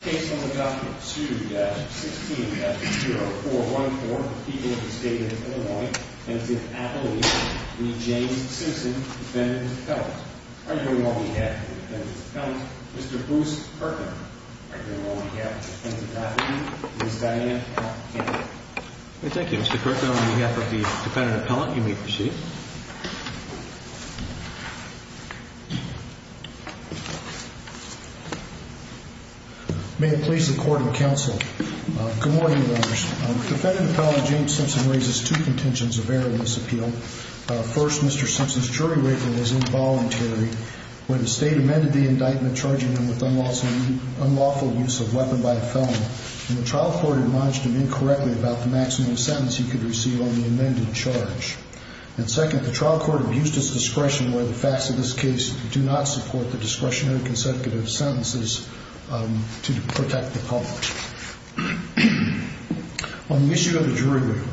case number document 2-16-0414 for the people of the state of Illinois, and it's in Appalachian, the James Simpson defendant appellant. I'm here on behalf of the defendant appellant, Mr. Bruce Kirkland. I'm here on behalf of the defendant's attorney, Ms. Dianne Atkins. Thank you, Mr. Kirkland. On behalf of the defendant appellant, you may proceed. May it please the court and counsel. Good morning, Your Honors. Defendant appellant James Simpson raises two contentions of error in this appeal. First, Mr. Simpson's jury rating was involuntary when the state amended the indictment charging him with unlawful use of weapon by a felon, and the trial court admonished him incorrectly about the maximum sentence he could receive on the amended charge. And second, the trial court abused his discretion where the facts of this case do not support the discretionary consecutive sentences to protect the public. On the issue of the jury rating,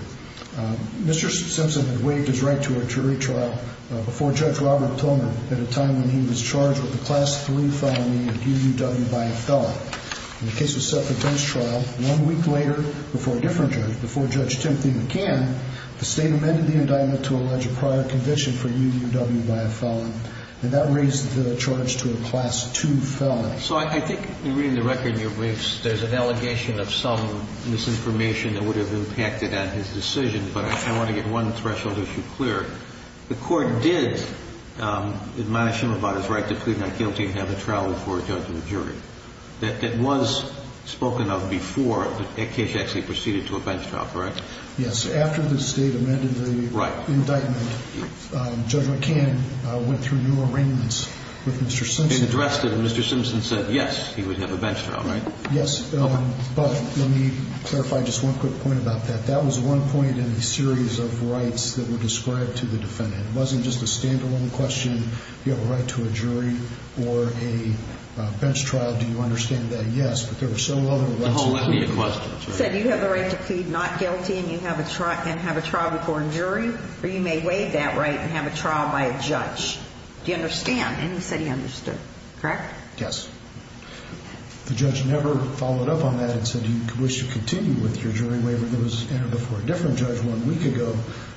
Mr. Simpson had waived his right to a jury trial before Judge Robert Plummer at a time when he was charged with a Class III felony of UUW by a felon. The case was set for a judge trial. One week later, before a different judge, before Judge Timothy McCann, the state amended the indictment to allege a prior conviction for UUW by a felon, and that raised the charge to a Class II felon. So I think, reading the record in your briefs, there's an allegation of some misinformation that would have impacted on his decision, but I want to get one threshold issue clear. The court did admonish him about his right to plead not guilty and have a trial before a judgment jury. That was spoken of before that case actually proceeded to a bench trial, correct? Yes. After the state amended the indictment, Judge McCann went through new arraignments with Mr. Simpson. He addressed it, and Mr. Simpson said, yes, he would have a bench trial, right? Yes, but let me clarify just one quick point about that. That was one point in a series of rights that were described to the defendant. It wasn't just a stand-alone question, do you have a right to a jury or a bench trial, do you understand that? Yes, but there were several other questions. He said you have the right to plead not guilty and have a trial before a jury, or you may waive that right and have a trial by a judge. Do you understand? And he said he understood, correct? Yes. The judge never followed up on that and said, do you wish to continue with your jury waiver that was entered before a different judge one week ago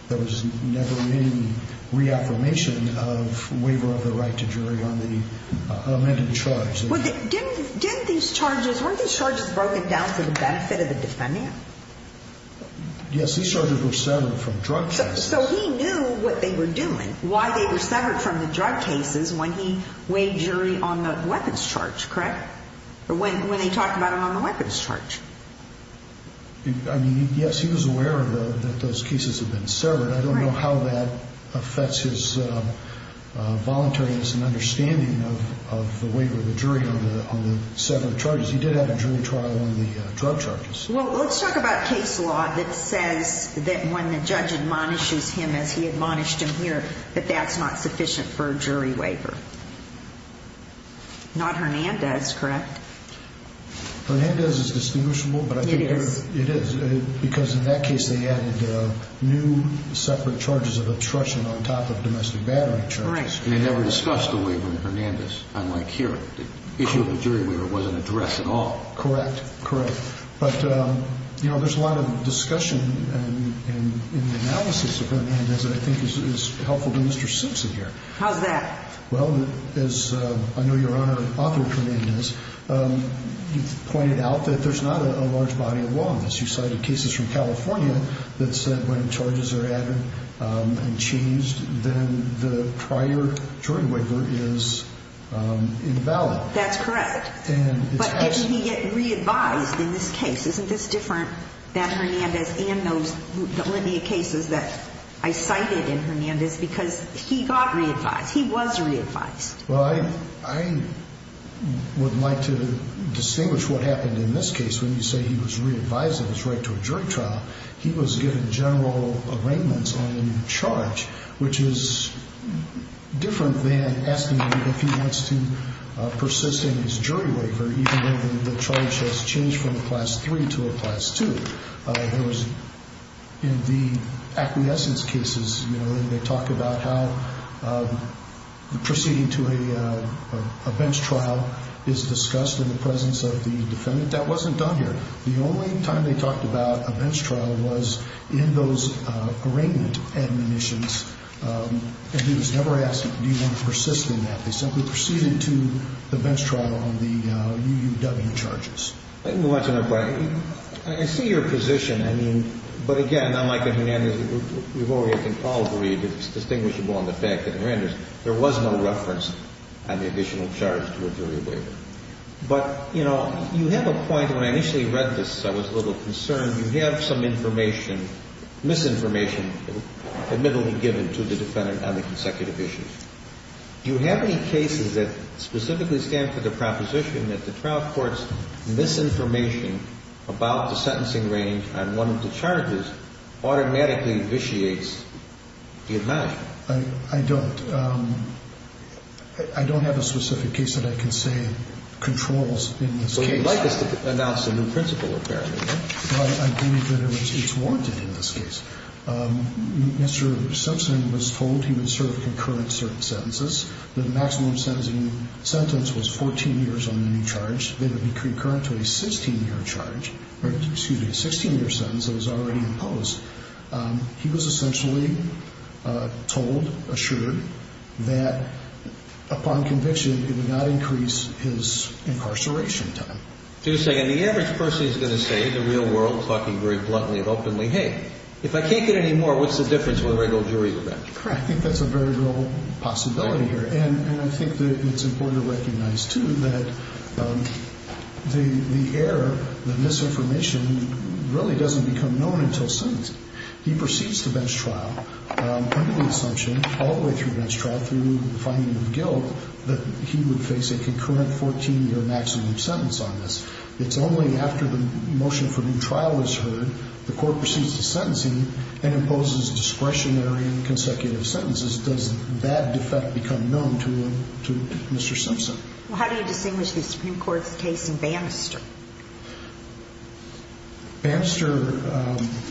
that was never in reaffirmation of waiver of the right to jury on the amended charge. Didn't these charges, weren't these charges broken down for the benefit of the defendant? Yes, these charges were severed from drug cases. So he knew what they were doing, why they were severed from the drug cases, when he waived jury on the weapons charge, correct? When they talked about it on the weapons charge. I mean, yes, he was aware that those cases had been severed. I don't know how that affects his voluntariness and understanding of the waiver of the jury on the severed charges. He did have a jury trial on the drug charges. Well, let's talk about case law that says that when the judge admonishes him, as he admonished him here, that that's not sufficient for a jury waiver. Not Hernandez, correct? Hernandez is distinguishable. It is. Because in that case they added new separate charges of attrition on top of domestic battery charges. Correct. And they never discussed the waiver in Hernandez, unlike here. The issue of the jury waiver wasn't addressed at all. Correct, correct. But, you know, there's a lot of discussion and analysis of Hernandez that I think is helpful to Mr. Simpson here. How's that? Well, as I know your Honor, author of Hernandez, you pointed out that there's not a large body of law on this. You cited cases from California that said when charges are added and changed, then the prior jury waiver is invalid. That's correct. But if you get re-advised in this case, isn't this different than Hernandez and those millennia cases that I cited in Hernandez? Because he got re-advised. He was re-advised. Well, I would like to distinguish what happened in this case. When you say he was re-advised in his right to a jury trial, he was given general arraignments on the charge, which is different than asking him if he wants to persist in his jury waiver, even though the charge has changed from a Class III to a Class II. In the acquiescence cases, they talk about how proceeding to a bench trial is discussed in the presence of the defendant. That wasn't done here. The only time they talked about a bench trial was in those arraignment admonitions, and he was never asked, do you want to persist in that? They simply proceeded to the bench trial on the UUW charges. Let me watch another point. I see your position. I mean, but again, unlike in Hernandez, we've already had been called to read that it's distinguishable on the fact that in Hernandez there was no reference on the additional charge to a jury waiver. But, you know, you have a point. When I initially read this, I was a little concerned. You have some information, misinformation, admittedly given to the defendant on the consecutive issues. Do you have any cases that specifically stand for the proposition that the trial court's misinformation about the sentencing range on one of the charges automatically vitiates the admonition? I don't. I don't have a specific case that I can say controls in this case. So you'd like us to announce a new principle, apparently, right? I believe that it's warranted in this case. Mr. Simpson was told he would serve concurrent certain sentences. The maximum sentencing sentence was 14 years on the new charge. It would be concurrent to a 16-year sentence that was already imposed. He was essentially told, assured, that upon conviction, it would not increase his incarceration time. Just a second. The average person is going to say in the real world, talking very bluntly and openly, hey, if I can't get any more, what's the difference with a regular jury event? I think that's a very real possibility here. And I think that it's important to recognize, too, that the error, the misinformation, really doesn't become known until sentencing. He proceeds to bench trial under the assumption, all the way through bench trial through the finding of guilt, that he would face a concurrent 14-year maximum sentence on this. It's only after the motion for new trial is heard, the court proceeds to sentencing and imposes discretionary and consecutive sentences. Does that defect become known to Mr. Simpson? Well, how do you distinguish the Supreme Court's case and Bannister? Bannister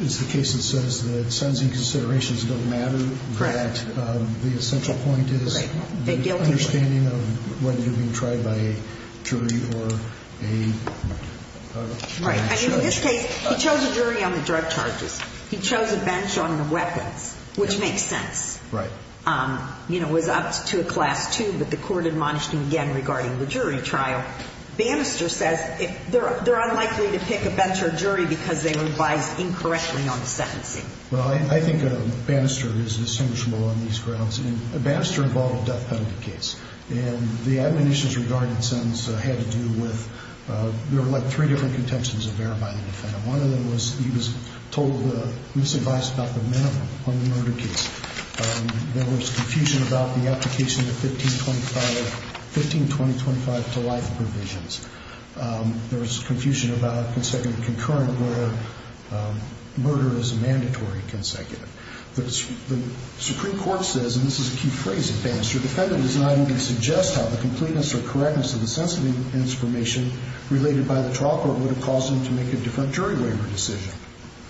is the case that says that sentencing considerations don't matter. Correct. The essential point is the understanding of whether you're being tried by a jury or a bench judge. Right. I mean, in this case, he chose a jury on the drug charges. He chose a bench on the weapons, which makes sense. Right. You know, it was up to a class two, but the court admonished him again regarding the jury trial. Bannister says they're unlikely to pick a bench or jury because they revised incorrectly on the sentencing. Well, I think Bannister is distinguishable on these grounds. And Bannister involved a death penalty case. And the admonitions regarding the sentence had to do with There were, like, three different contentions of error by the defendant. One of them was he was told the misadvice about the minimum on the murder case. There was confusion about the application of the 15-20-25 to life provisions. There was confusion about consecutive concurrent where murder is a mandatory consecutive. The Supreme Court says, and this is a key phrase in Bannister, The defendant does not even suggest how the completeness or correctness of the sentencing information related by the trial court would have caused him to make a different jury waiver decision.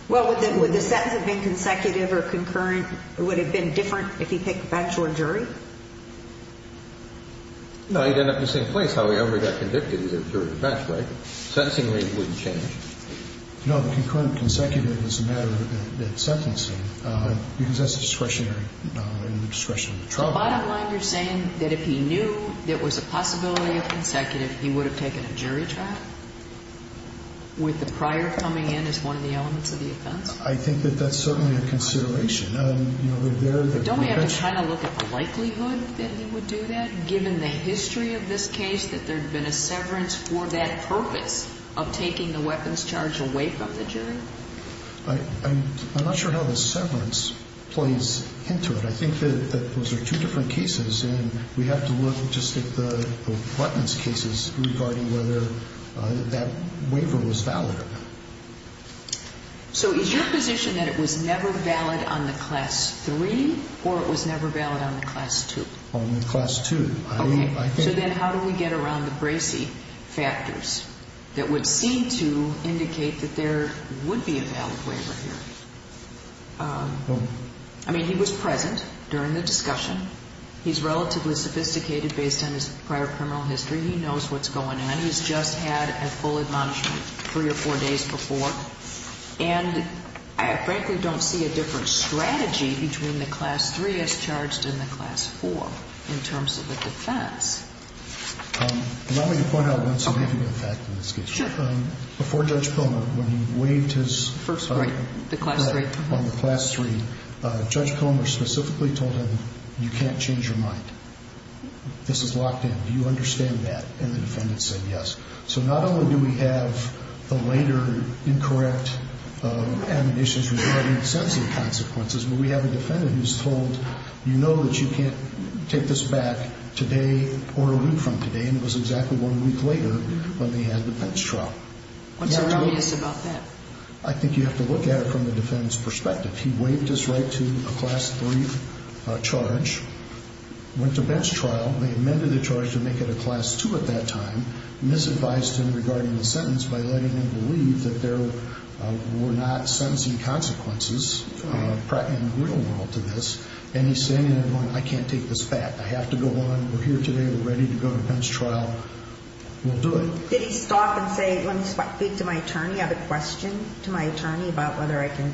Well, would the sentence have been consecutive or concurrent? It would have been different if he picked a bench or jury? No, he'd end up in the same place. However, he got convicted. He did a jury bench, right? Sentencing rate wouldn't change. No, the concurrent and consecutive is a matter of sentencing because that's discretionary in the discretion of the trial court. On the bottom line, you're saying that if he knew there was a possibility of consecutive, he would have taken a jury trial with the prior coming in as one of the elements of the offense? I think that that's certainly a consideration. Don't we have to kind of look at the likelihood that he would do that, given the history of this case, that there had been a severance for that purpose of taking the weapons charge away from the jury? I'm not sure how the severance plays into it. I think that those are two different cases, and we have to look just at the weapons cases regarding whether that waiver was valid. So is your position that it was never valid on the Class III or it was never valid on the Class II? On the Class II. Okay. So then how do we get around the Bracey factors that would seem to indicate that there would be a valid waiver here? I mean, he was present during the discussion. He's relatively sophisticated based on his prior criminal history. He knows what's going on. He's just had a full admonishment three or four days before, and I frankly don't see a different strategy between the Class III as charged and the Class IV in terms of the defense. Allow me to point out one significant fact in this case. Sure. Before Judge Comer, when he waived his first right on the Class III, Judge Comer specifically told him, you can't change your mind. This is locked in. Do you understand that? And the defendant said yes. So not only do we have the later incorrect admonitions regarding sentencing consequences, but we have a defendant who's told, you know that you can't take this back today or a week from today, and it was exactly one week later when they had the bench trial. What's so obvious about that? I think you have to look at it from the defendant's perspective. He waived his right to a Class III charge, went to bench trial, and they amended the charge to make it a Class II at that time, misadvised him regarding the sentence by letting him believe that there were not sentencing consequences in the real world to this, and he's standing there going, I can't take this back. I have to go on. We're here today. We're ready to go to bench trial. We'll do it. Did he stop and say, let me speak to my attorney. I have a question to my attorney about whether I can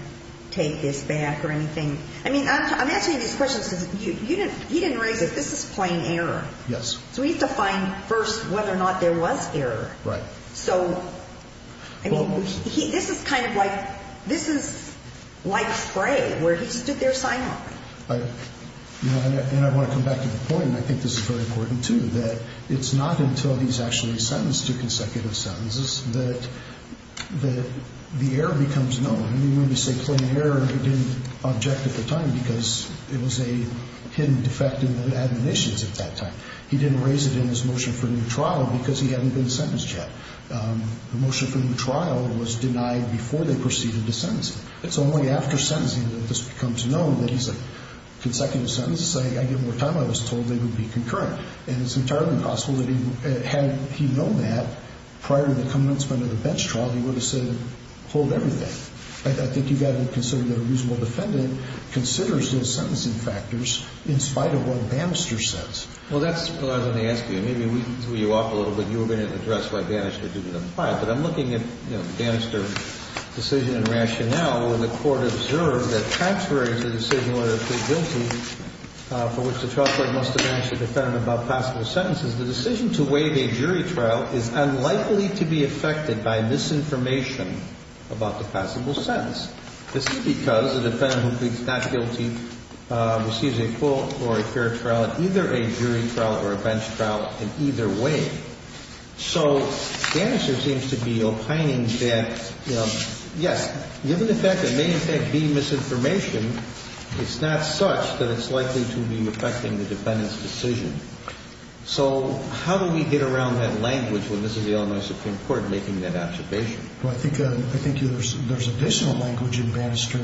take this back or anything. I mean, I'm asking you these questions because he didn't raise it. This is plain error. Yes. So we have to find first whether or not there was error. Right. So, I mean, this is kind of like, this is like Frey where he stood there sign-offing. And I want to come back to the point, and I think this is very important too, that it's not until he's actually sentenced to consecutive sentences that the error becomes known. I mean, when we say plain error, he didn't object at the time because it was a hidden defect in the admonitions at that time. He didn't raise it in his motion for new trial because he hadn't been sentenced yet. The motion for new trial was denied before they proceeded to sentence him. It's only after sentencing that this becomes known that he's at consecutive sentences. I get more time. I was told they would be concurrent. And it's entirely possible that had he known that prior to the commencement of the bench trial, he would have said hold everything. I think you've got to consider that a reasonable defendant considers those sentencing factors in spite of what Bannister says. Well, that's what I was going to ask you. Maybe we threw you off a little bit. You were going to address why Bannister didn't apply. But I'm looking at Bannister's decision and rationale when the court observed that contrary to the decision whether to plead guilty, for which the trial court must have asked the defendant about passable sentences, the decision to waive a jury trial is unlikely to be affected by misinformation about the passable sentence. This is because the defendant who pleads not guilty receives a court or a fair trial and either a jury trial or a bench trial in either way. So Bannister seems to be opining that, yes, given the fact that there may in fact be misinformation, it's not such that it's likely to be affecting the defendant's decision. So how do we get around that language when this is the Illinois Supreme Court making that observation? Well, I think there's additional language in Bannister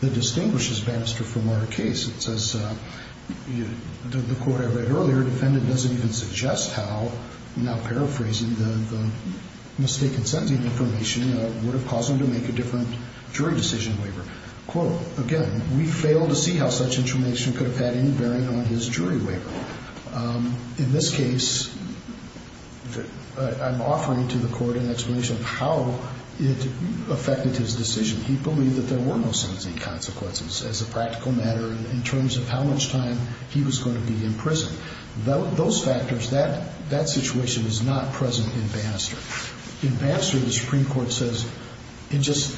that distinguishes Bannister from our case. It says, the court I read earlier, the defendant doesn't even suggest how, now paraphrasing, the mistaken sentencing information would have caused him to make a different jury decision waiver. Quote, again, we fail to see how such information could have had any bearing on his jury waiver. In this case, I'm offering to the court an explanation of how it affected his decision. He believed that there were no sentencing consequences as a practical matter in terms of how much time he was going to be in prison. Those factors, that situation is not present in Bannister. In Bannister, the Supreme Court says it just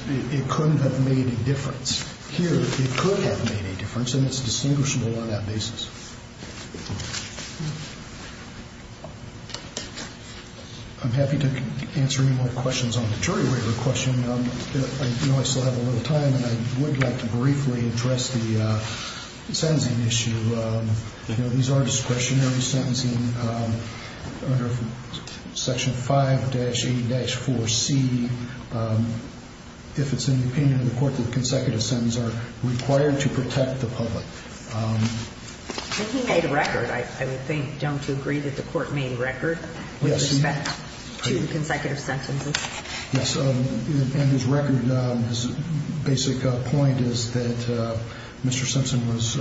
couldn't have made a difference. Here, it could have made a difference, and it's distinguishable on that basis. I'm happy to answer any more questions on the jury waiver question. I know I still have a little time, and I would like to briefly address the sentencing issue. These are discretionary sentencing under Section 5-A-4C. If it's in the opinion of the court that consecutive sentences are required to protect the public, He made a record, I would think. Don't you agree that the court made a record with respect to consecutive sentences? Yes, and his record, his basic point is that Mr. Simpson was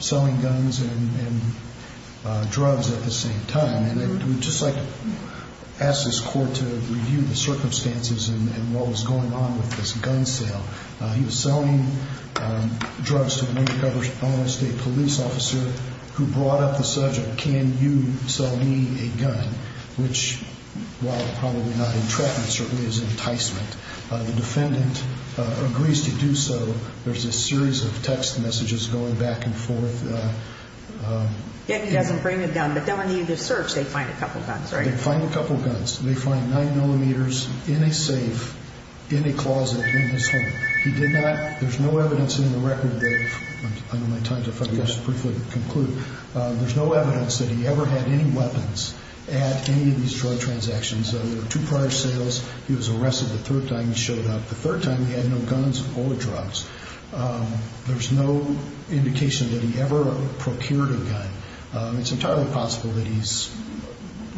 selling guns and drugs at the same time. And I would just like to ask this court to review the circumstances and what was going on with this gun sale. He was selling drugs to a state police officer who brought up the subject, Can you sell me a gun? Which, while probably not entrapment, certainly is enticement. The defendant agrees to do so. There's a series of text messages going back and forth. Yet he doesn't bring a gun, but then when you do the search, they find a couple of guns, right? They find a couple of guns. They find nine millimeters in a safe, in a closet, in his home. He did not, there's no evidence in the record that, I know my time's up, I guess I should briefly conclude. There's no evidence that he ever had any weapons at any of these drug transactions. There were two prior sales. He was arrested the third time he showed up. The third time he had no guns or drugs. There's no indication that he ever procured a gun. It's entirely possible that he's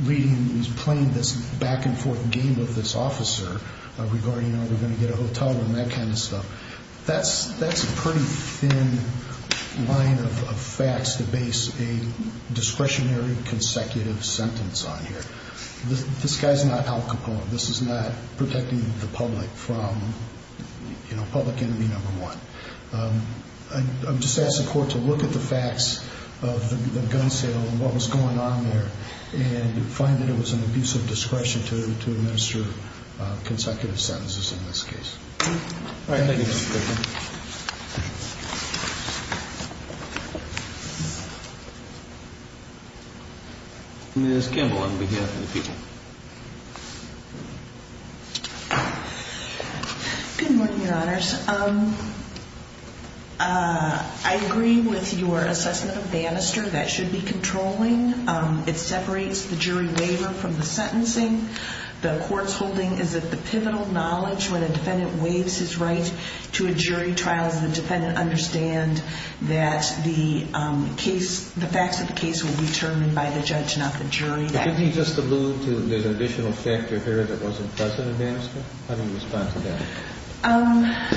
reading, he's playing this back and forth game with this officer, regarding are we going to get a hotel room, that kind of stuff. That's a pretty thin line of facts to base a discretionary consecutive sentence on here. This guy's not Al Capone. This is not protecting the public from, you know, public enemy number one. I would just ask the court to look at the facts of the gun sale and what was going on there and find that it was an abusive discretion to administer consecutive sentences in this case. All right, thank you. Ms. Kimball on behalf of the people. Good morning, Your Honors. I agree with your assessment of Bannister. That should be controlling. It separates the jury waiver from the sentencing. The court's holding is that the pivotal knowledge when a defendant waives his right to a jury trial is the defendant understand that the facts of the case will be determined by the judge, not the jury. Didn't he just allude to there's an additional factor here that wasn't present in Bannister? How do you respond to that?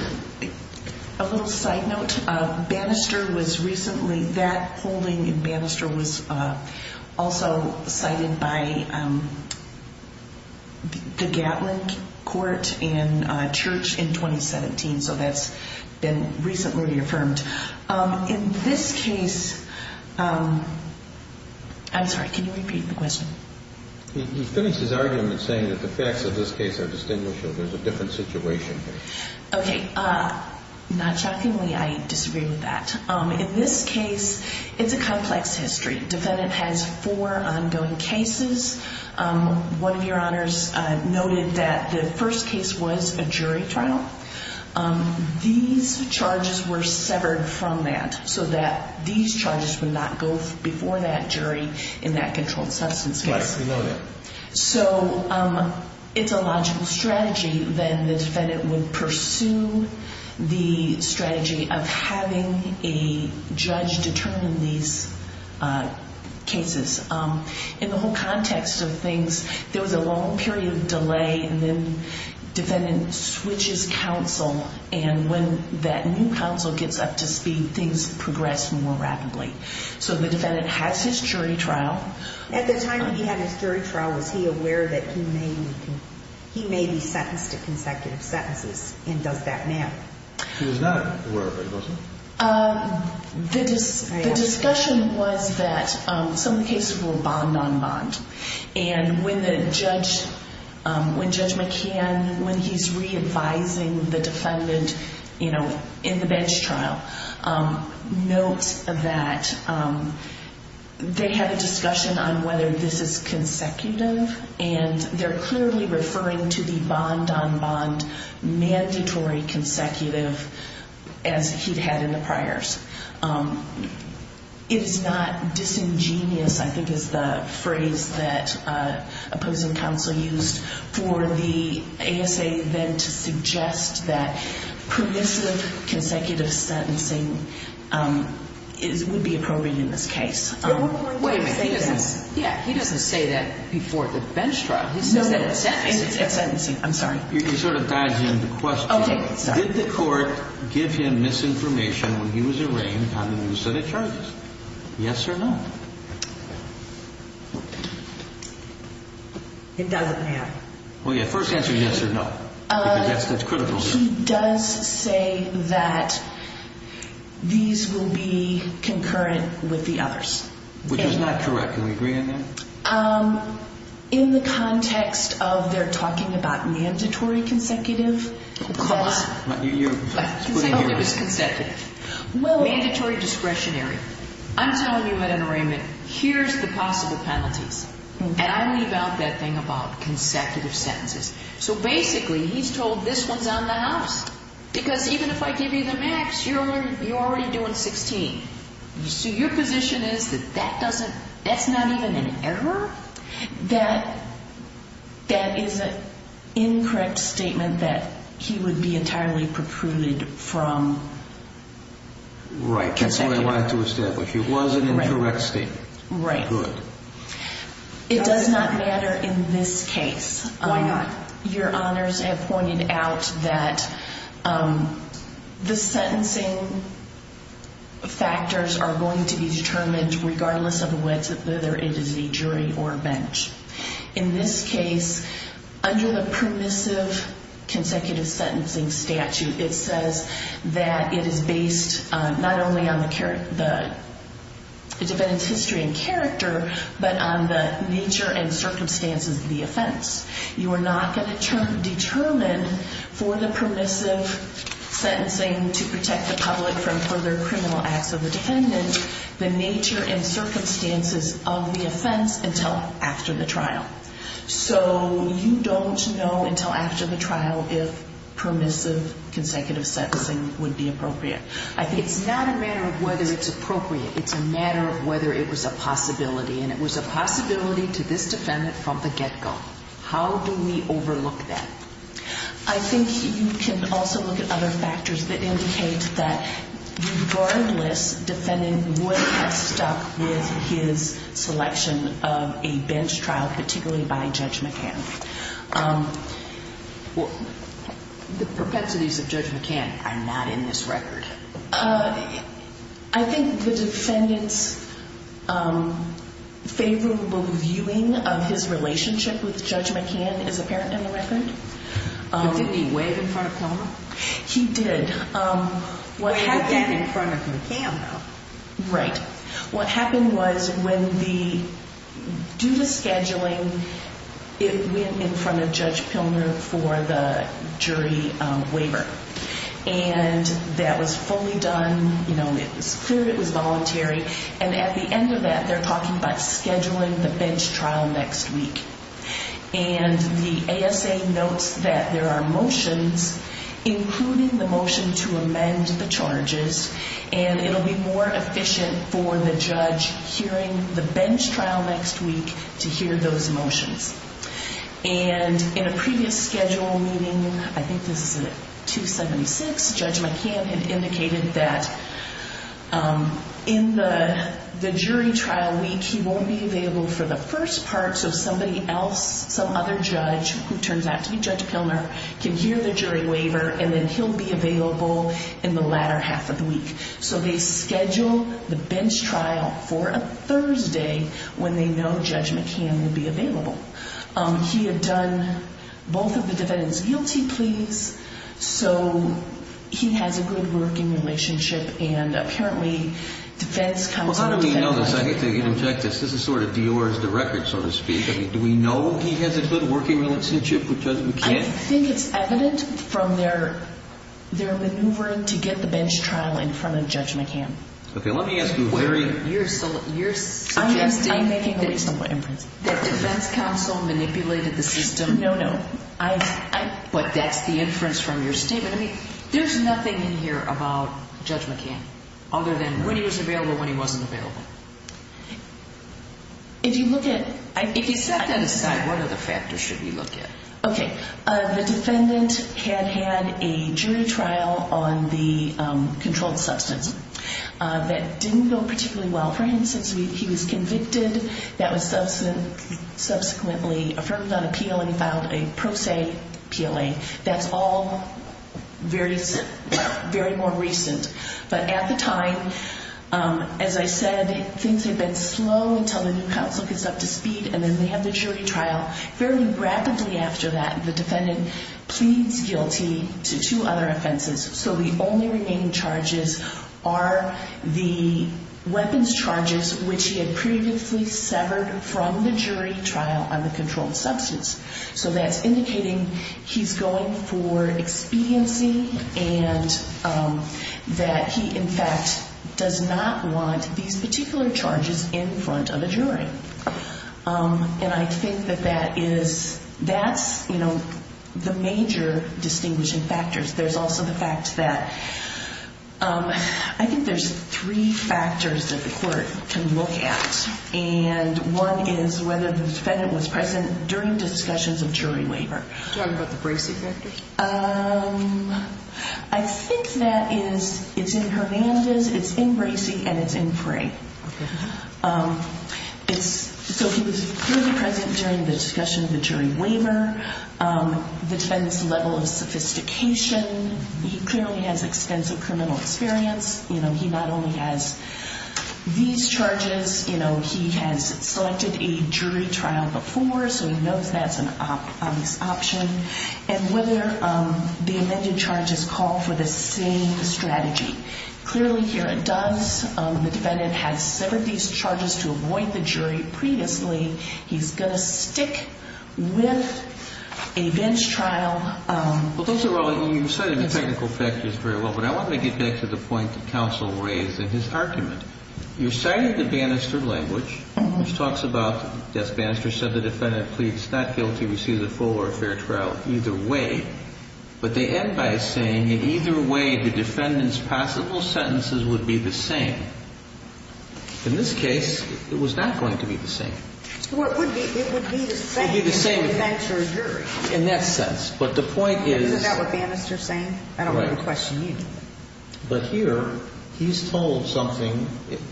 A little side note. Bannister was recently, that holding in Bannister was also cited by the Gatlin Court and Church in 2017, so that's been recently affirmed. In this case, I'm sorry, can you repeat the question? He finished his argument saying that the facts of this case are distinguishable. There's a different situation here. Okay, not shockingly, I disagree with that. In this case, it's a complex history. Defendant has four ongoing cases. One of your honors noted that the first case was a jury trial. These charges were severed from that so that these charges would not go before that jury in that controlled substance case. Right, we know that. So it's a logical strategy then the defendant would pursue the strategy of having a judge determine these cases. In the whole context of things, there was a long period of delay, and then defendant switches counsel, and when that new counsel gets up to speed, things progress more rapidly. So the defendant has his jury trial. At the time that he had his jury trial, was he aware that he may be sentenced to consecutive sentences, and does that now? He was not aware of it, was he? The discussion was that some cases were bond-on-bond, and when Judge McCann, when he's re-advising the defendant in the bench trial, notes that they had a discussion on whether this is consecutive, and they're clearly referring to the bond-on-bond mandatory consecutive as he'd had in the priors. It's not disingenuous, I think is the phrase that opposing counsel used for the ASA then to suggest that permissive consecutive sentencing would be appropriate in this case. Wait a minute, he doesn't say that before the bench trial. He says that at sentencing. I'm sorry. You can sort of dive into the question. Did the court give him misinformation when he was arraigned on the new set of charges? Yes or no? It doesn't have. Well, yeah, first answer yes or no. That's critical. He does say that these will be concurrent with the others. Which is not correct. Can we agree on that? In the context of they're talking about mandatory consecutive. Of course. Oh, it was consecutive. Mandatory discretionary. I'm telling you at an arraignment, here's the possible penalties, and I leave out that thing about consecutive sentences. So basically he's told this one's on the house. Because even if I give you the max, you're already doing 16. So your position is that that's not even an error? That is an incorrect statement that he would be entirely precluded from consecutive. Right, that's what I wanted to establish. It was an incorrect statement. Right. Good. It does not matter in this case. Why not? Your honors have pointed out that the sentencing factors are going to be determined regardless of whether it is a jury or a bench. In this case, under the permissive consecutive sentencing statute, it says that it is based not only on the defendant's history and character, but on the nature and circumstances of the offense. You are not going to determine for the permissive sentencing to protect the public from further criminal acts of the defendant the nature and circumstances of the offense until after the trial. So you don't know until after the trial if permissive consecutive sentencing would be appropriate. It's not a matter of whether it's appropriate. It's a matter of whether it was a possibility, and it was a possibility to this defendant from the get-go. How do we overlook that? I think you can also look at other factors that indicate that, regardless, the defendant would have stuck with his selection of a bench trial, particularly by Judge McCann. The perpetuities of Judge McCann are not in this record. I think the defendant's favorable viewing of his relationship with Judge McCann is apparent in the record. But didn't he waive in front of Plummer? He did. He did in front of McCann, though. Right. What happened was, due to scheduling, it went in front of Judge Pilner for the jury waiver. And that was fully done. It was clear it was voluntary. And at the end of that, they're talking about scheduling the bench trial next week. And the ASA notes that there are motions, including the motion to amend the charges, and it will be more efficient for the judge hearing the bench trial next week to hear those motions. And in a previous schedule meeting, I think this is at 276, Judge McCann had indicated that in the jury trial week, he won't be available for the first part so somebody else, some other judge who turns out to be Judge Pilner, can hear the jury waiver, and then he'll be available in the latter half of the week. So they schedule the bench trial for a Thursday when they know Judge McCann will be available. He had done both of the defendants' guilty pleas, so he has a good working relationship. And apparently defense comes with defense. Well, how do we know this? I need to get him checked. This is sort of Dior's record, so to speak. Do we know he has a good working relationship with Judge McCann? I think it's evident from their maneuver to get the bench trial in front of Judge McCann. Okay. Let me ask you, Larry. You're suggesting that defense counsel manipulated the system. No, no. But that's the inference from your statement. I mean, there's nothing in here about Judge McCann other than when he was available, when he wasn't available. If you look at it. If you set that aside, what other factors should we look at? Okay. The defendant had had a jury trial on the controlled substance that didn't go particularly well for him since he was convicted. That was subsequently affirmed on appeal and filed a pro se PLA. That's all very more recent. But at the time, as I said, things had been slow until the new counsel gets up to speed, and then they have the jury trial. Very rapidly after that, the defendant pleads guilty to two other offenses. So the only remaining charges are the weapons charges, which he had previously severed from the jury trial on the controlled substance. So that's indicating he's going for expediency and that he, in fact, does not want these particular charges in front of a jury. And I think that that is the major distinguishing factors. There's also the fact that I think there's three factors that the court can look at, and one is whether the defendant was present during discussions of jury waiver. Do you want to talk about the Bracey factor? I think that it's in Hernandez, it's in Bracey, and it's in Prey. So he was clearly present during the discussion of the jury waiver, the defendant's level of sophistication. He clearly has extensive criminal experience. He not only has these charges, he has selected a jury trial before, so he knows that's an obvious option, and whether the amended charges call for the same strategy. Clearly here it does. The defendant has severed these charges to avoid the jury previously. He's going to stick with a bench trial. Well, Councillor Raleigh, you cited the technical factors very well, but I want to get back to the point the counsel raised in his argument. You cited the Bannister language, which talks about, yes, Bannister said the defendant pleads not guilty, receives a full or fair trial either way, but they end by saying in either way the defendant's possible sentences would be the same. In this case, it was not going to be the same. It would be the same in that jury. In that sense, but the point is— Isn't that what Bannister is saying? I don't want to question you. But here he's told something.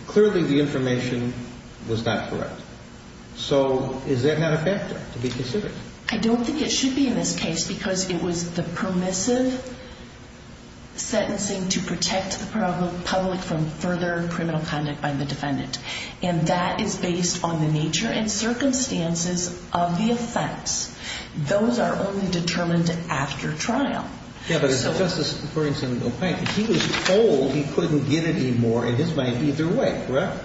Clearly the information was not correct. So is that not a factor to be considered? I don't think it should be in this case because it was the permissive sentencing to protect the public from further criminal conduct by the defendant, and that is based on the nature and circumstances of the offense. Those are only determined after trial. Yeah, but it's just as according to the plaintiff. He was told he couldn't get it anymore in his mind either way, correct?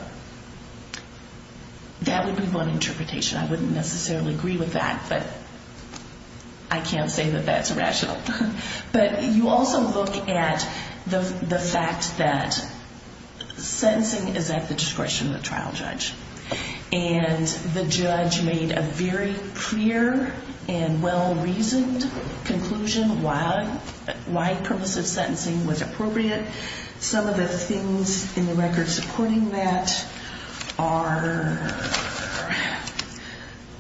That would be one interpretation. I wouldn't necessarily agree with that, but I can't say that that's rational. But you also look at the fact that sentencing is at the discretion of the trial judge, and the judge made a very clear and well-reasoned conclusion why permissive sentencing was appropriate. Some of the things in the record supporting that are,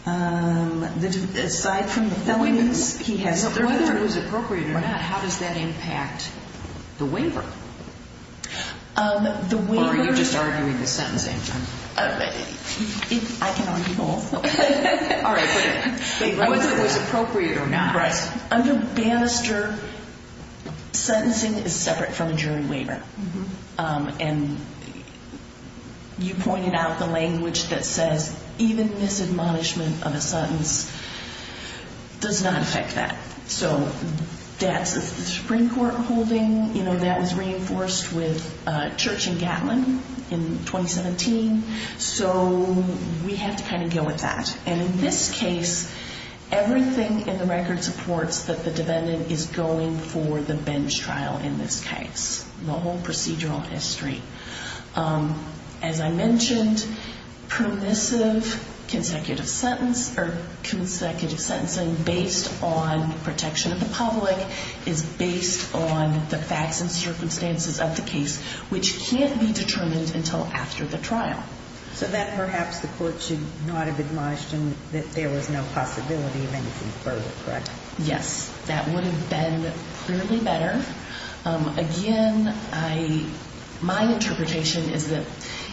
aside from the felonies, whether it was appropriate or not, how does that impact the waiver? Or are you just arguing the sentencing? I can argue both. All right, but whether it was appropriate or not. Under Bannister, sentencing is separate from a jury waiver. And you pointed out the language that says even misadmonishment of a sentence does not affect that. So that's the Supreme Court holding. That was reinforced with Church and Gatlin in 2017. So we have to kind of go with that. And in this case, everything in the record supports that the defendant is going for the bench trial in this case, the whole procedural history. As I mentioned, permissive consecutive sentence or consecutive sentencing based on protection of the public is based on the facts and circumstances of the case, which can't be determined until after the trial. So that perhaps the court should not have admonished him that there was no possibility of anything further, correct? Yes, that would have been clearly better. Again, my interpretation is that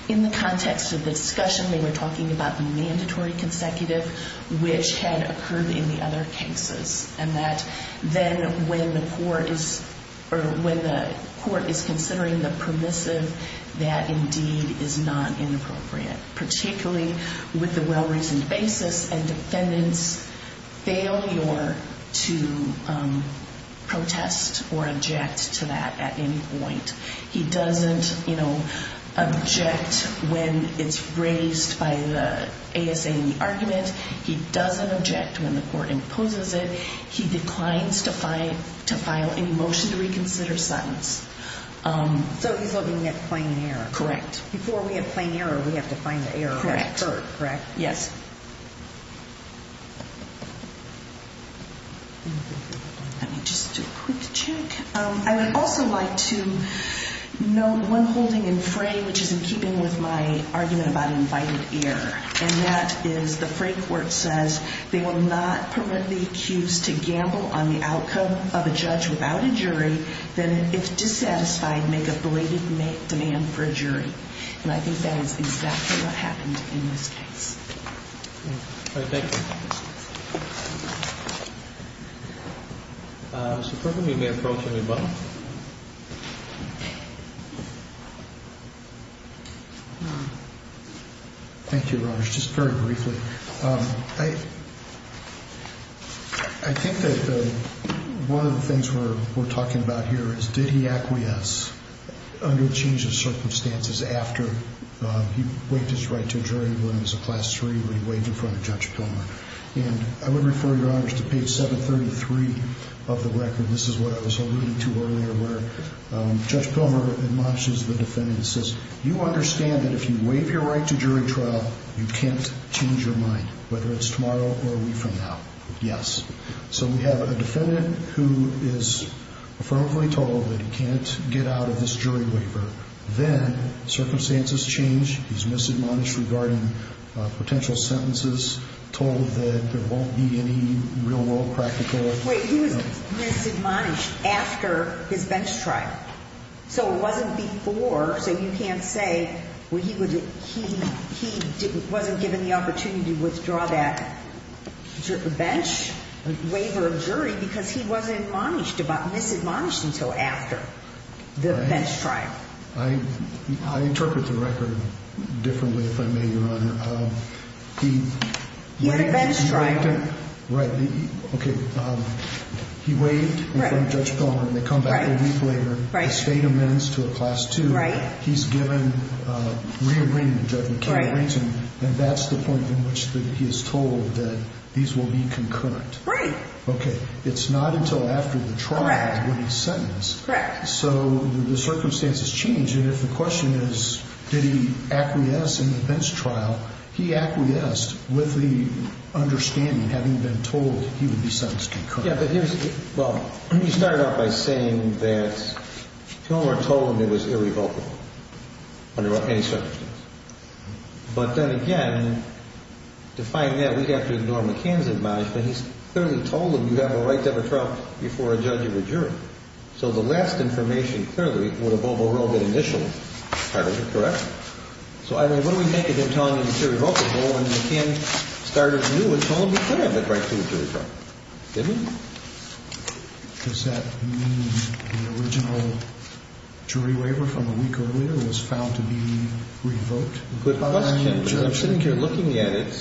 in the context of the discussion, they were talking about the mandatory consecutive, which had occurred in the other cases. And that then when the court is considering the permissive, that indeed is not inappropriate, particularly with the well-reasoned basis and defendant's failure to protest or object to that at any point. He doesn't, you know, object when it's raised by the ASAE argument. He doesn't object when the court imposes it. He declines to file any motion to reconsider sentence. So he's looking at plain error. Correct. Before we have plain error, we have to find the error that occurred, correct? Yes. Let me just do a quick check. I would also like to note one holding in fray, which is in keeping with my argument about invited error, and that is the fray court says they will not permit the accused to gamble on the outcome of a judge without a jury than if dissatisfied, make a blatant demand for a jury. And I think that is exactly what happened in this case. All right. Thank you. Mr. Perkin, you may approach any button. Thank you, Roge, just very briefly. I think that one of the things we're talking about here is did he acquiesce under a change of circumstances after he waived his right to a jury when he was a Class III or he waived in front of Judge Pilmer. And I would refer, Your Honors, to page 733 of the record. This is what I was alluding to earlier where Judge Pilmer admonishes the defendant and says, You understand that if you waive your right to jury trial, you can't change your mind, whether it's tomorrow or a week from now. Yes. So we have a defendant who is affirmatively told that he can't get out of this jury waiver. Then circumstances change. He's misadmonished regarding potential sentences, told that there won't be any real-world practical. Wait. He was misadmonished after his bench trial. So it wasn't before, so you can't say he wasn't given the opportunity to withdraw that bench waiver of jury because he wasn't misadmonished until after the bench trial. I interpret the record differently, if I may, Your Honor. He had a bench trial. Right. Okay. He waived in front of Judge Pilmer. They come back a week later. The state amends to a Class 2. He's given re-agreement to Judge McKean-Briggs, and that's the point in which he is told that these will be concurrent. Right. Okay. It's not until after the trial when he's sentenced. Correct. So the circumstances change, and if the question is did he acquiesce in the bench trial, he acquiesced with the understanding, having been told he would be sentenced concurrently. Yeah, but here's the thing. Well, you started off by saying that Pilmer told him it was irrevocable under any circumstances. But then again, to find that, we have to ignore McKean's admonishment. He's clearly told him you have a right to have a trial before a judge or a jury. So the last information clearly would have overruled it initially. Correct. So what do we make of him telling us it's irrevocable when McKean started anew and told him he could have the right to a jury trial? Didn't he? Does that mean the original jury waiver from a week earlier was found to be revoked? Good question. I'm assuming you're looking at it. In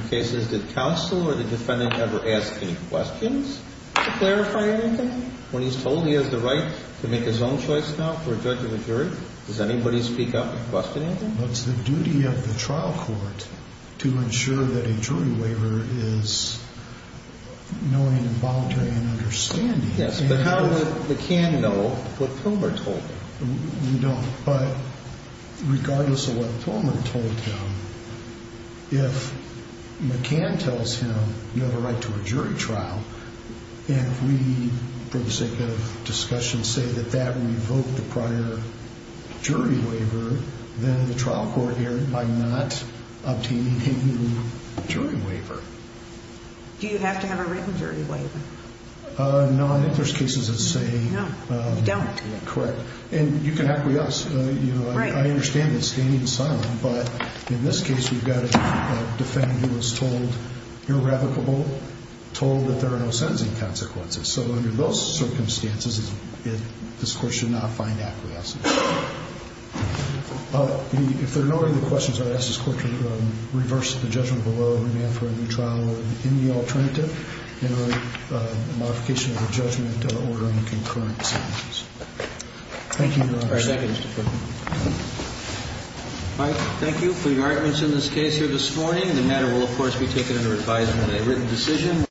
some cases, did counsel or the defendant ever ask any questions to clarify anything when he's told he has the right to make his own choice now for a judge or a jury? Does anybody speak up and question anything? It's the duty of the trial court to ensure that a jury waiver is knowing and volunteering and understanding. Yes, but how would McKean know what Pilmer told him? We don't, but regardless of what Pilmer told him, if McKean tells him you have a right to a jury trial, and if we, for the sake of discussion, say that that revoked the prior jury waiver, then the trial court erred by not obtaining a jury waiver. Do you have to have a written jury waiver? No, I think there's cases that say... No, you don't. Correct. And you can have it with us. Right. I understand that standing silent, but in this case, we've got a defendant who was told irrevocable, told that there are no sentencing consequences. So under those circumstances, this Court should not find acquiescence. If there are no other questions, I'd ask this Court to reverse the judgment below, amend for a new trial in the alternative, and write a modification of the judgment ordering concurrent sentences. Thank you, Your Honor. All right. Thank you, Mr. Perkins. All right. Thank you for your arguments in this case here this morning. The matter will, of course, be taken under advisement of a written decision.